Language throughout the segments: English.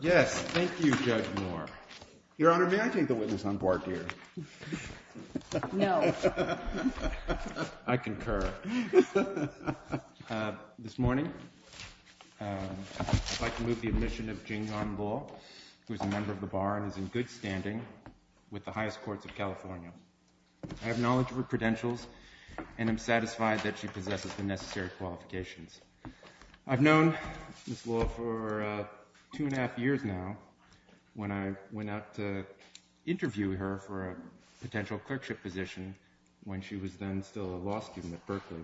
Yes, thank you, Judge Moore. Your Honor, may I take the witness on board here? No. I concur. This morning, I'd like to move the admission of Jing Yan Law, who is a member of the Bar and is in good standing with the highest courts of California. I have knowledge of her credentials and am satisfied that she possesses the necessary qualifications. I've known Ms. Law for two and a half years now, when I went out to interview her for a potential clerkship position when she was then still a law student at Berkeley.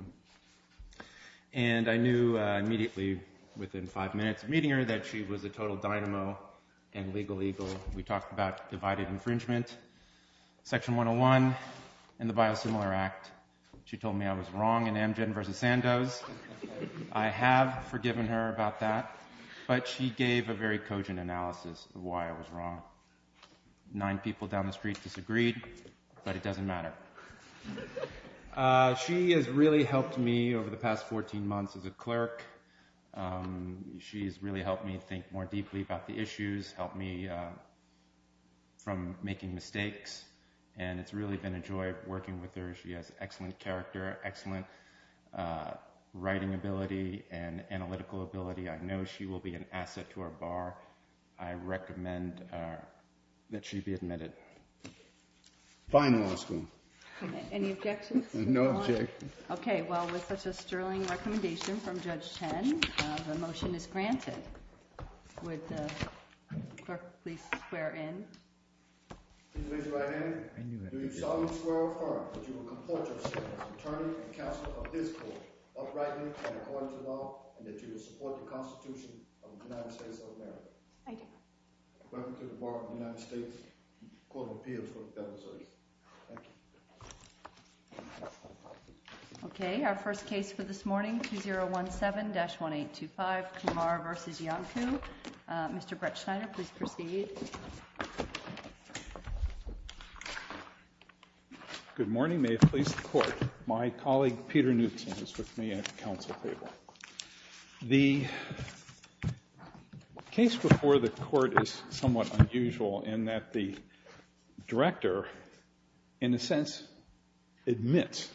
And I knew immediately within five minutes of meeting her that she was a total dynamo and legal eagle. We talked about divided infringement, Section 101, and the Biosimilar Act. She told me I was wrong in Amgen v. Sandoz. I have forgiven her about that, but she gave a very cogent analysis of why I was wrong. Nine people down the street disagreed, but it doesn't matter. She has really helped me over the past 14 months as a clerk. She's really helped me think more deeply about the issues, helped me from making mistakes, and it's really been a joy working with her. She has excellent character, excellent writing ability, and analytical ability. I know she will be an asset to our Bar. I recommend that she be admitted. Fine law school. Any objections? No objections. Okay, well, with such a sterling recommendation from Judge Chen, the motion is granted. Would the clerk please square in? Please raise your right hand. Do you solemnly swear or affirm that you will comport yourself as an attorney and counsel of this court, uprightly and according to law, and that you will support the Constitution of the United States of America? I do. Welcome to the Board of the United States Court of Appeals for the Federal Circuit. Thank you. Okay, our first case for this morning, 2017-1825, Kumar v. Yanku. Mr. Bretschneider, please proceed. Good morning. May it please the Court. My colleague, Peter Knutson, is with me at the counsel table. The case before the Court is somewhat unusual in that the director, in a sense, admits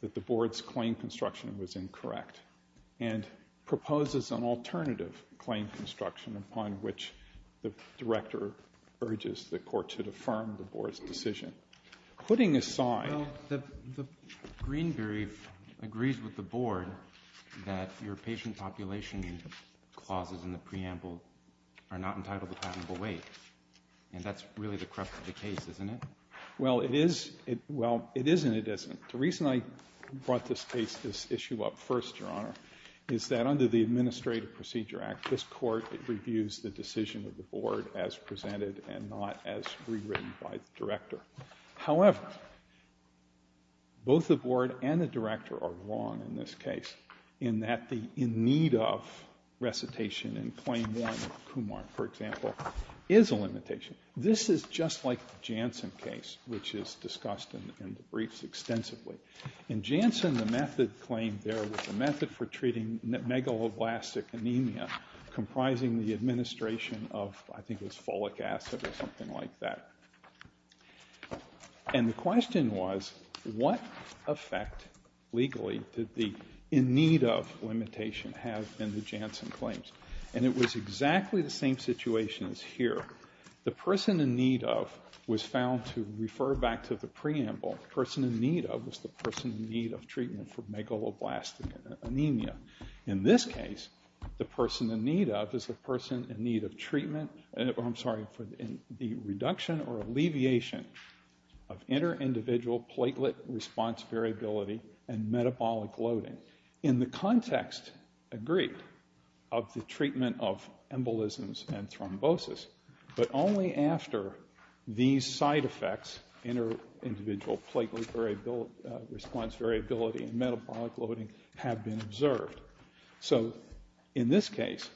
that the Board's claim construction was incorrect and proposes an alternative claim construction upon which the director urges the Court to affirm the Board's decision. Putting aside— Well, the green brief agrees with the Board that your patient population clauses in the preamble are not entitled to patentable weight, and that's really the crux of the case, isn't it? Well, it is and it isn't. The reason I brought this case, this issue up first, Your Honor, is that under the Administrative Procedure Act, this Court reviews the decision of the Board as presented and not as rewritten by the director. However, both the Board and the director are wrong in this case in that the in need of recitation in Claim 1 of Kumar, for example, is a limitation. This is just like the Janssen case, which is discussed in the briefs extensively. In Janssen, the method claimed there was a method for treating megaloblastic anemia comprising the administration of, I think it was folic acid or something like that. And the question was, what effect legally did the in need of limitation have in the Janssen claims? And it was exactly the same situation as here. The person in need of was found to refer back to the preamble. The person in need of was the person in need of treatment for megaloblastic anemia. In this case, the person in need of is the person in need of treatment, I'm sorry, for the reduction or alleviation of inter-individual platelet response variability and metabolic loading. And in the context, agreed, of the treatment of embolisms and thrombosis. But only after these side effects, inter-individual platelet response variability and metabolic loading have been observed. So in this case,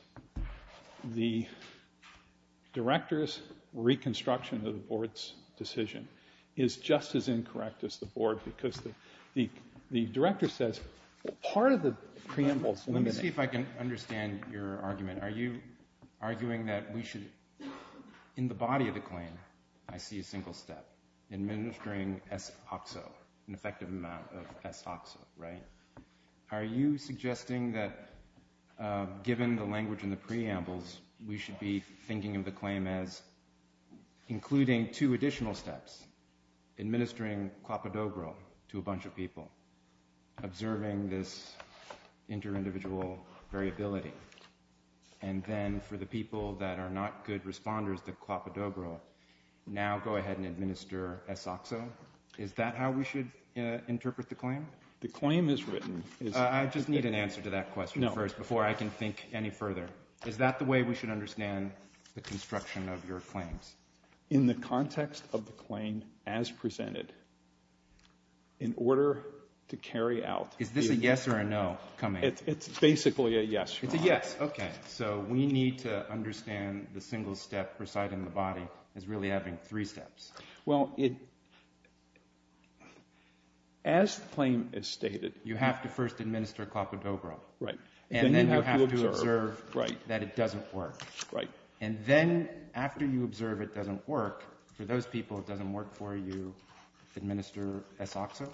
the director's reconstruction of the board's decision is just as part of the preamble. Let me see if I can understand your argument. Are you arguing that we should, in the body of the claim, I see a single step, administering S-oxo, an effective amount of S-oxo, right? Are you suggesting that given the language in the preambles, we should be thinking of the claim as including two additional steps, administering Clopidogrel to a inter-individual variability, and then for the people that are not good responders, the Clopidogrel, now go ahead and administer S-oxo? Is that how we should interpret the claim? The claim is written. I just need an answer to that question first before I can think any further. Is that the way we should understand the construction of your claims? In the context of the claim as presented, in order to carry out the It's basically a yes. It's a yes. Okay. So we need to understand the single step presiding in the body as really having three steps. Well, as the claim is stated, you have to first administer Clopidogrel. Right. And then you have to observe that it doesn't work. Right. And then after you observe it doesn't work, for those people it doesn't work for you, administer S-oxo?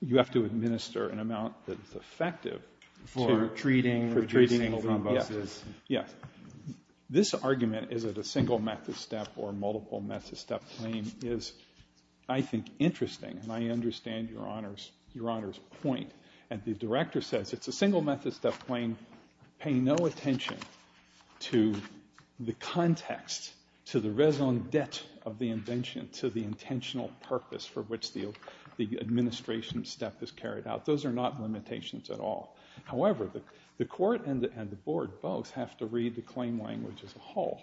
You have to administer an amount that is effective. For treating the single thrombosis. Yes. This argument, is it a single method step or a multiple method step claim, is I think interesting, and I understand Your Honor's point. And the director says it's a single method step claim. Pay no attention to the context, to the raison d'etre of the invention, to the intentional purpose for which the administration step is carried out. Those are not limitations at all. However, the court and the board both have to read the claim language as a whole.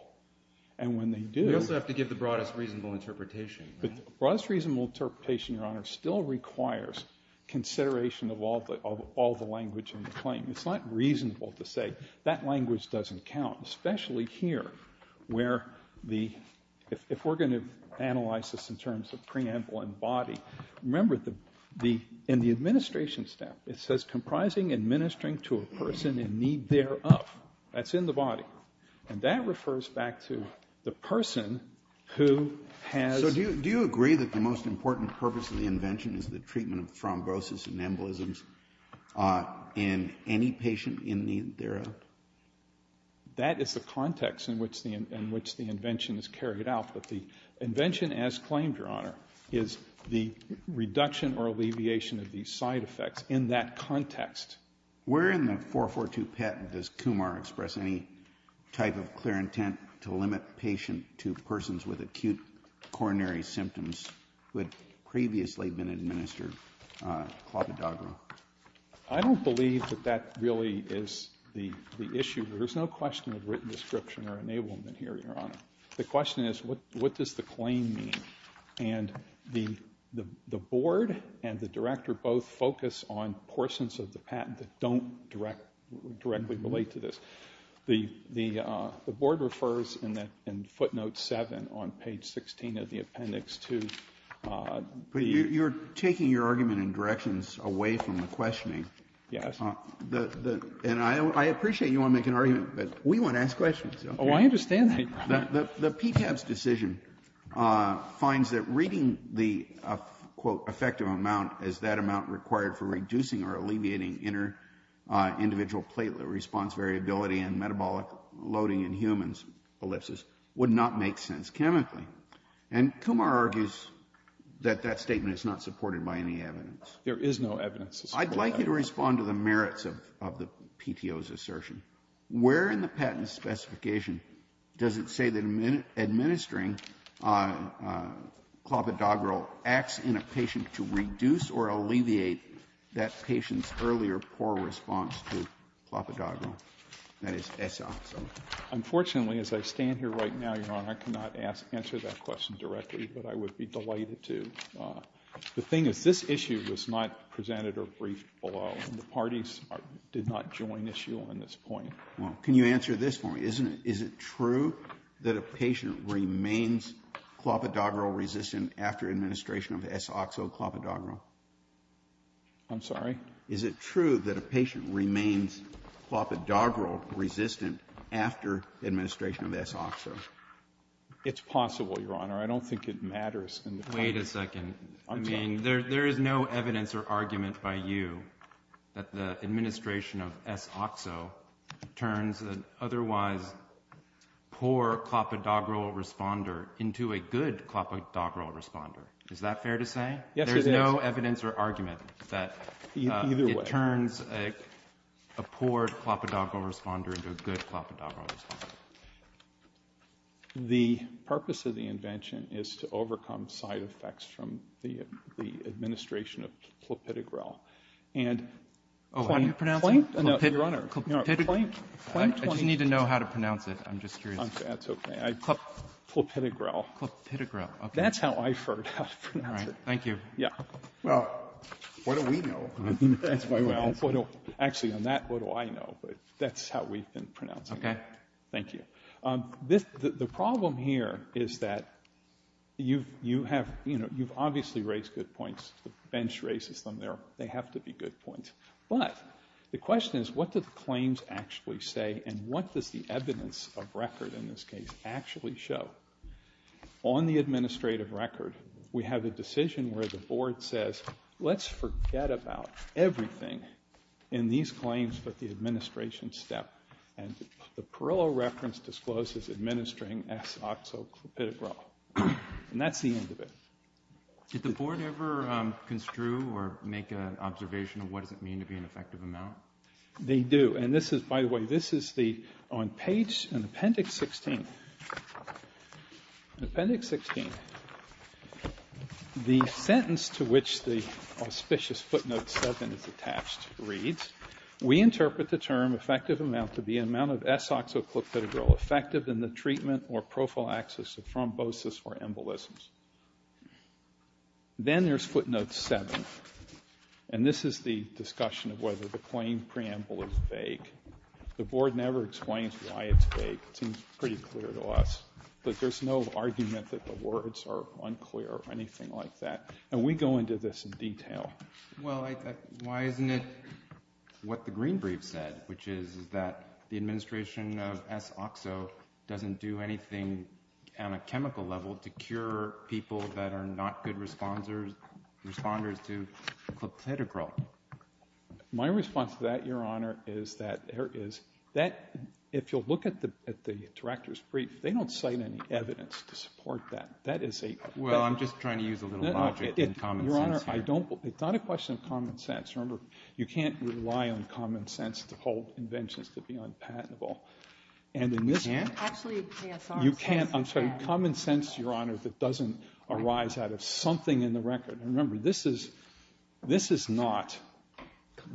And when they do. You also have to give the broadest reasonable interpretation. The broadest reasonable interpretation, Your Honor, still requires consideration of all the language in the claim. It's not reasonable to say that language doesn't count, especially here where if we're going to analyze this in terms of preamble and body, remember in the administration step it says, comprising administering to a person in need thereof. That's in the body. And that refers back to the person who has. So do you agree that the most important purpose of the invention is the treatment of thrombosis and embolisms in any patient in need thereof? That is the context in which the invention is carried out. But the invention as claimed, Your Honor, is the reduction or alleviation of these side effects in that context. Where in the 442 patent does Kumar express any type of clear intent to limit patient to persons with acute coronary symptoms who had previously been administered Clopidogrel? I don't believe that that really is the issue. There's no question of written description or enablement here, Your Honor. The question is what does the claim mean? And the board and the director both focus on portions of the patent that don't directly relate to this. The board refers in footnote 7 on page 16 of the appendix to the ---- You're taking your argument and directions away from the questioning. Yes. And I appreciate you want to make an argument, but we want to ask questions. Oh, I understand that, Your Honor. The PTAB's decision finds that reading the, quote, effective amount as that amount required for reducing or alleviating inner individual platelet response variability and metabolic loading in humans, ellipses, would not make sense chemically. And Kumar argues that that statement is not supported by any evidence. There is no evidence. I'd like you to respond to the merits of the PTO's assertion. Where in the patent specification does it say that administering Clopidogrel acts in a patient to reduce or alleviate that patient's earlier poor response to Clopidogrel, that is, Essoxone? Unfortunately, as I stand here right now, Your Honor, I cannot answer that question directly, but I would be delighted to. The thing is this issue was not presented or briefed below, and the parties did not join issue on this point. Well, can you answer this for me? Is it true that a patient remains Clopidogrel-resistant after administration of Essoxone Clopidogrel? I'm sorry? Is it true that a patient remains Clopidogrel-resistant after administration of Essoxone? It's possible, Your Honor. I don't think it matters. Wait a second. I mean, there is no evidence or argument by you that the administration of Essoxone turns an otherwise poor Clopidogrel responder into a good Clopidogrel responder. Is that fair to say? Yes, it is. There is no evidence or argument that it turns a poor Clopidogrel responder into a good Clopidogrel responder. The purpose of the invention is to overcome side effects from the administration of Clopidogrel. Oh, how do you pronounce it? Clank? Clank? I just need to know how to pronounce it. I'm just curious. That's okay. Clopidogrel. That's how I've heard how to pronounce it. All right. Thank you. Well, what do we know? Actually, on that, what do I know? But that's how we've been pronouncing it. Okay. Thank you. The problem here is that you've obviously raised good points. The bench raises them. They have to be good points. But the question is what do the claims actually say and what does the evidence of record in this case actually show? On the administrative record, we have a decision where the board says, let's forget about everything in these claims but the administration step. And the Parillo reference discloses administering S-oxo-Clopidogrel. And that's the end of it. Did the board ever construe or make an observation of what does it mean to be an effective amount? They do. And this is, by the way, this is on page and appendix 16. Appendix 16. The sentence to which the auspicious footnote 7 is attached reads, we interpret the term effective amount to be an amount of S-oxo-Clopidogrel effective in the treatment or prophylaxis of thrombosis or embolisms. Then there's footnote 7. And this is the discussion of whether the claim preamble is vague. The board never explains why it's vague. It seems pretty clear to us. But there's no argument that the words are unclear or anything like that. And we go into this in detail. Well, why isn't it what the green brief said, which is that the administration of S-oxo doesn't do anything on a chemical level to cure people that are not good responders to Clopidogrel? My response to that, Your Honor, is that if you'll look at the director's brief, they don't cite any evidence to support that. Well, I'm just trying to use a little logic and common sense here. No, Your Honor, it's not a question of common sense. Remember, you can't rely on common sense to hold inventions to be unpatentable. You can't? Actually, yes. You can't. I'm sorry, common sense, Your Honor, that doesn't arise out of something in the record. Remember, this is not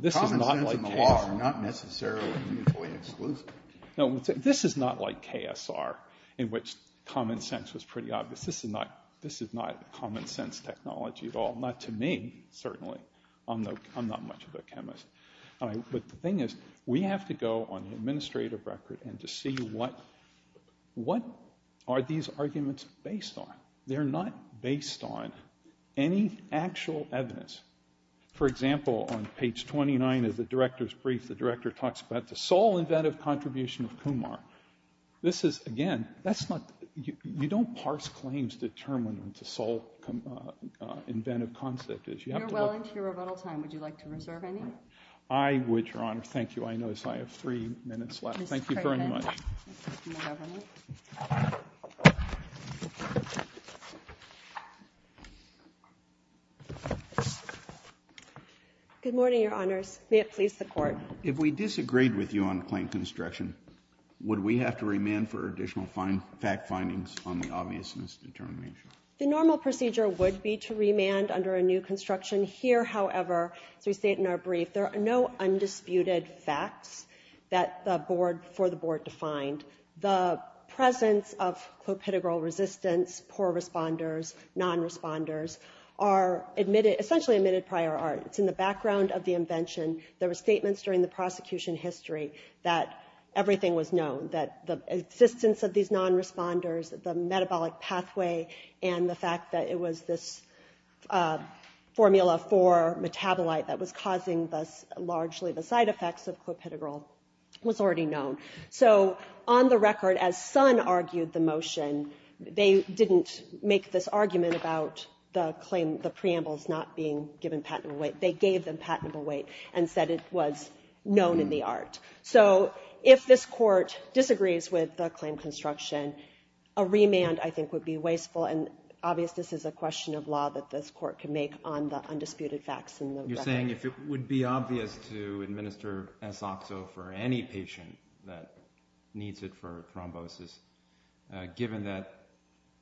like KSR. Common sense and the law are not necessarily mutually exclusive. No, this is not like KSR, in which common sense was pretty obvious. This is not common sense technology at all. Not to me, certainly. I'm not much of a chemist. But the thing is, we have to go on the administrative record and to see what are these arguments based on. They're not based on any actual evidence. For example, on page 29 of the director's brief, the director talks about the sole inventive contribution of Kumar. This is, again, you don't parse claims to determine what the sole inventive concept is. You're well into your rebuttal time. Would you like to reserve any? I would, Your Honor. Thank you. If you'll excuse my notice, I have three minutes left. Thank you very much. Mr. Craven. Good morning, Your Honors. May it please the Court. If we disagreed with you on claim construction, would we have to remand for additional fact findings on the obvious misdetermination? The normal procedure would be to remand under a new construction. Here, however, as we state in our brief, there are no undisputed facts for the Board to find. The presence of clopidogrel resistance, poor responders, non-responders, are essentially admitted prior art. It's in the background of the invention. There were statements during the prosecution history that everything was known, that the existence of these non-responders, the metabolic pathway, and the fact that it was this formula for metabolite that was causing largely the side effects of clopidogrel was already known. So on the record, as Sun argued the motion, they didn't make this argument about the claim, the preambles not being given patentable weight. They gave them patentable weight and said it was known in the art. So if this Court disagrees with the claim construction, a remand I think would be wasteful, and obvious this is a question of law that this Court can make on the undisputed facts in the record. You're saying if it would be obvious to administer S-Oxo for any patient that needs it for thrombosis, given that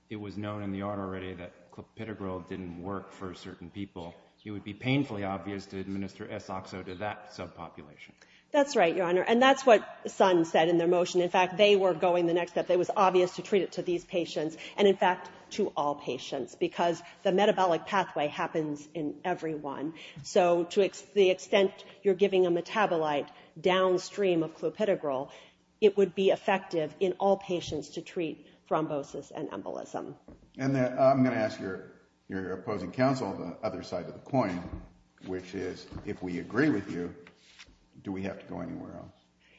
it was known in the art already that clopidogrel didn't work for certain people, it would be painfully obvious to administer S-Oxo to that subpopulation. That's right, Your Honor, and that's what Sun said in their motion. In fact, they were going the next step. It was obvious to treat it to these patients and, in fact, to all patients because the metabolic pathway happens in everyone. So to the extent you're giving a metabolite downstream of clopidogrel, it would be effective in all patients to treat thrombosis and embolism. And I'm going to ask your opposing counsel the other side of the coin, which is if we agree with you, do we have to go anywhere else?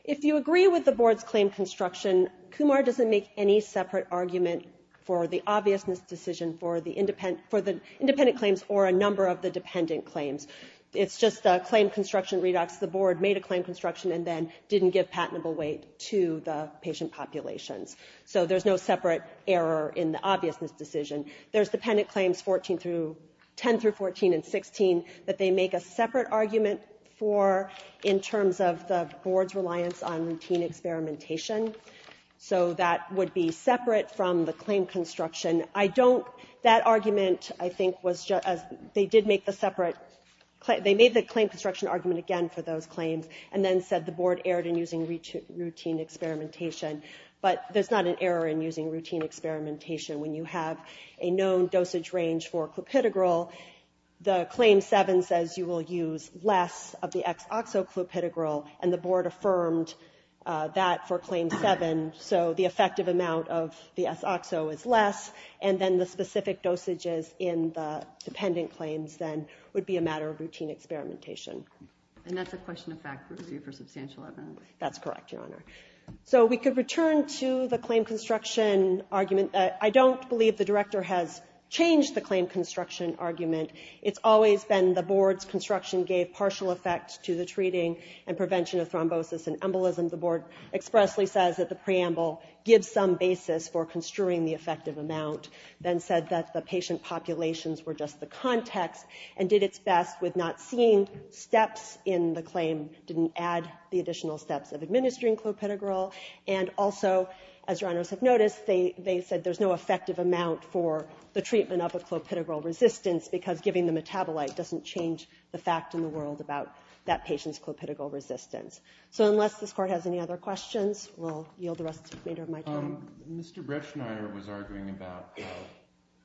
If you agree with the board's claim construction, Kumar doesn't make any separate argument for the obviousness decision for the independent claims or a number of the dependent claims. It's just a claim construction redox. The board made a claim construction and then didn't give patentable weight to the patient populations. So there's no separate error in the obviousness decision. There's dependent claims 10 through 14 and 16 that they make a separate argument for in terms of the board's reliance on routine experimentation. So that would be separate from the claim construction. That argument, I think, was just as they did make the separate claim. They made the claim construction argument again for those claims and then said the board erred in using routine experimentation. But there's not an error in using routine experimentation. When you have a known dosage range for clopidogrel, the Claim 7 says you will use less of the ex-oxo clopidogrel and the board affirmed that for Claim 7. So the effective amount of the ex-oxo is less and then the specific dosages in the dependent claims then would be a matter of routine experimentation. And that's a question of fact review for substantial evidence. That's correct, Your Honor. So we could return to the claim construction argument. I don't believe the director has changed the claim construction argument. It's always been the board's construction gave partial effect to the treating and prevention of thrombosis and embolism. The board expressly says that the preamble gives some basis for construing the effective amount, then said that the patient populations were just the context and did its best with not seeing steps in the claim, didn't add the additional steps of administering clopidogrel, and also, as Your Honors have noticed, they said there's no effective amount for the treatment of a clopidogrel resistance because giving the metabolite doesn't change the fact in the world about that patient's clopidogrel resistance. So unless this Court has any other questions, we'll yield the rest of my time. Mr. Bretschneider was arguing about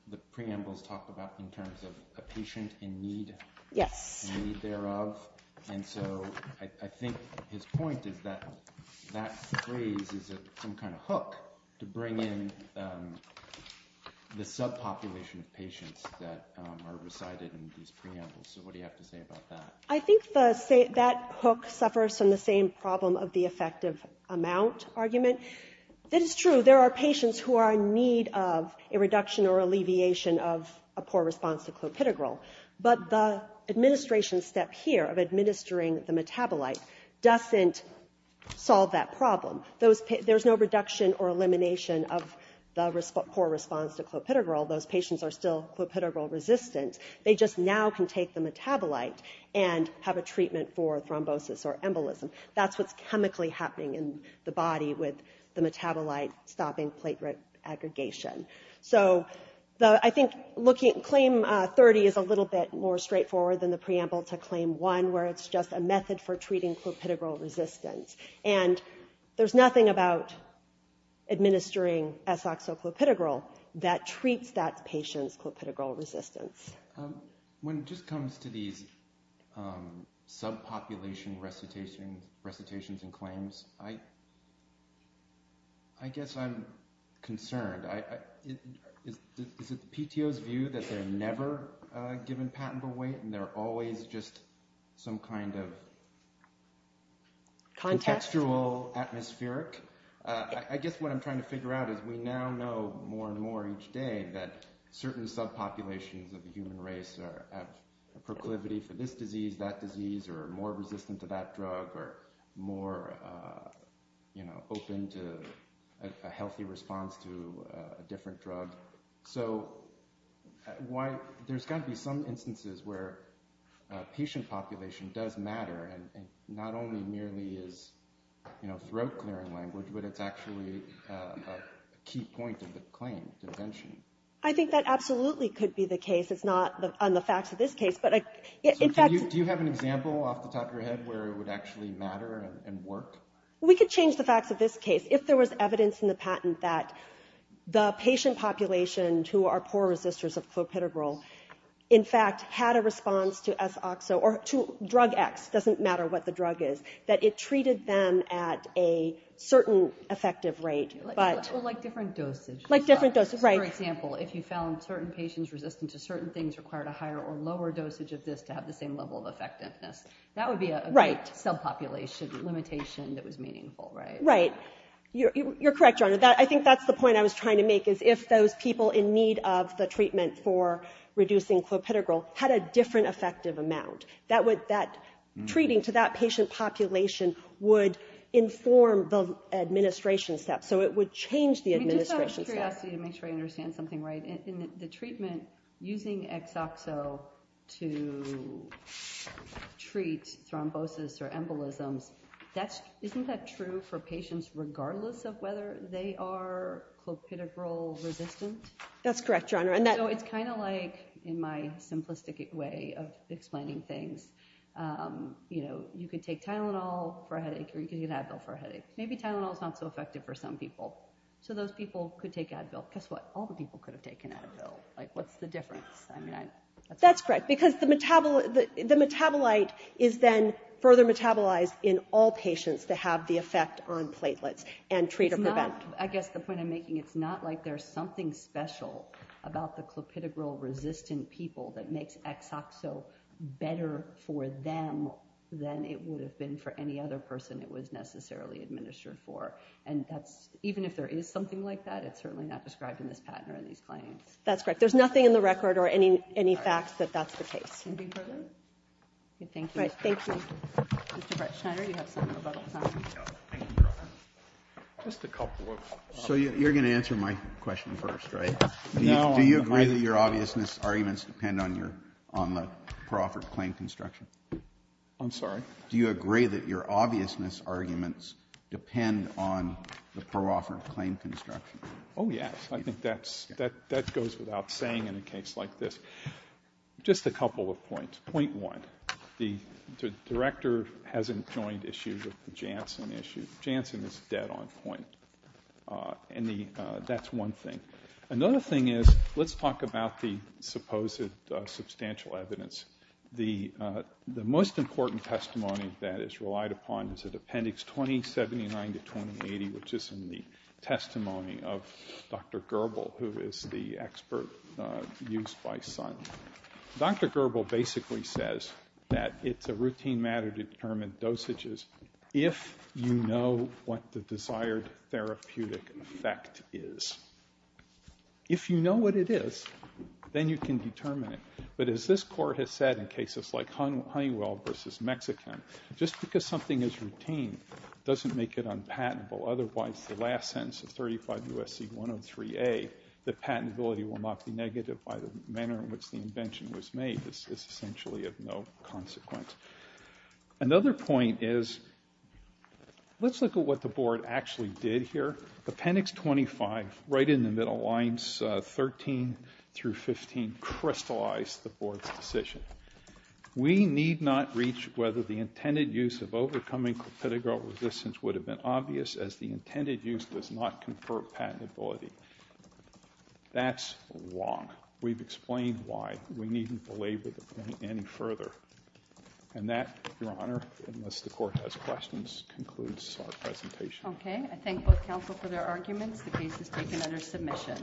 the preambles talked about in terms of a patient in need. Yes. In need thereof. And so I think his point is that that phrase is some kind of hook to bring in the subpopulation of patients that are resided in these preambles. So what do you have to say about that? I think that hook suffers from the same problem of the effective amount argument. That is true. There are patients who are in need of a reduction or alleviation of a poor response to clopidogrel. But the administration step here of administering the metabolite doesn't solve that problem. There's no reduction or elimination of the poor response to clopidogrel. Those patients are still clopidogrel resistant. They just now can take the metabolite and have a treatment for thrombosis or embolism. That's what's chemically happening in the body with the metabolite-stopping plate rate aggregation. So I think claim 30 is a little bit more straightforward than the preamble to claim 1, where it's just a method for treating clopidogrel resistance. And there's nothing about administering S-oxo-clopidogrel that treats that patient's clopidogrel resistance. When it just comes to these subpopulation recitations and claims, I guess I'm concerned. Is it the PTO's view that they're never given patentable weight and they're always just some kind of contextual atmospheric? I guess what I'm trying to figure out is we now know more and more each day that certain subpopulations of the human race are at proclivity for this disease, that disease, or more resistant to that drug or more open to a healthy response to a different drug. So there's got to be some instances where patient population does matter and not only merely is throat-clearing language, but it's actually a key point of the claim to attention. I think that absolutely could be the case. It's not on the facts of this case. Do you have an example off the top of your head where it would actually matter and work? We could change the facts of this case. If there was evidence in the patent that the patient population who are poor resistors of clopidogrel in fact had a response to S-oxo or to drug X, doesn't matter what the drug is, that it treated them at a certain effective rate. Like different dosage. Like different dosage, right. So, for example, if you found certain patients resistant to certain things required a higher or lower dosage of this to have the same level of effectiveness, that would be a subpopulation limitation that was meaningful, right? Right. You're correct, Your Honor. I think that's the point I was trying to make is if those people in need of the treatment for reducing clopidogrel had a different effective amount, that treating to that patient population would inform the administration steps. So it would change the administration steps. Just to make sure I understand something right, in the treatment using X-oxo to treat thrombosis or embolisms, isn't that true for patients regardless of whether they are clopidogrel resistant? That's correct, Your Honor. So it's kind of like in my simplistic way of explaining things, you know, you could take Tylenol for a headache or you could take Advil for a headache. Maybe Tylenol is not so effective for some people. So those people could take Advil. Guess what? All the people could have taken Advil. Like, what's the difference? That's correct, because the metabolite is then further metabolized in all patients to have the effect on platelets and treat or prevent. I guess the point I'm making, it's not like there's something special about the clopidogrel resistant people that makes X-oxo better for them than it would have been for any other person it was necessarily administered for. And even if there is something like that, it's certainly not described in this patent or in these claims. That's correct. There's nothing in the record or any facts that that's the case. Anything further? Thank you. All right. Thank you. Mr. Bretschneider, you have some rebuttals, don't you? Thank you, Your Honor. Just a couple of. So you're going to answer my question first, right? Do you agree that your obviousness arguments depend on the proffered claim construction? I'm sorry? Do you agree that your obviousness arguments depend on the proffered claim construction? Oh, yes. I think that goes without saying in a case like this. Just a couple of points. Point one, the director hasn't joined issues with the Janssen issue. Janssen is dead on point. And that's one thing. Another thing is let's talk about the supposed substantial evidence. The most important testimony that is relied upon is at Appendix 2079 to 2080, which is in the testimony of Dr. Gerbel, who is the expert used by Sun. Dr. Gerbel basically says that it's a routine matter to determine dosages if you know what the desired therapeutic effect is. If you know what it is, then you can determine it. But as this court has said in cases like Honeywell v. Mexican, just because something is routine doesn't make it unpatentable. Otherwise, the last sentence of 35 U.S.C. 103A, that patentability will not be negative by the manner in which the invention was made, is essentially of no consequence. Another point is let's look at what the board actually did here. Appendix 25, right in the middle lines 13 through 15, crystallized the board's decision. We need not reach whether the intended use of overcoming clopidogrel resistance would have been obvious as the intended use does not confer patentability. That's wrong. We've explained why. We needn't belabor the point any further. And that, Your Honor, unless the court has questions, concludes our presentation. Okay. I thank both counsel for their arguments. The case is taken under submission.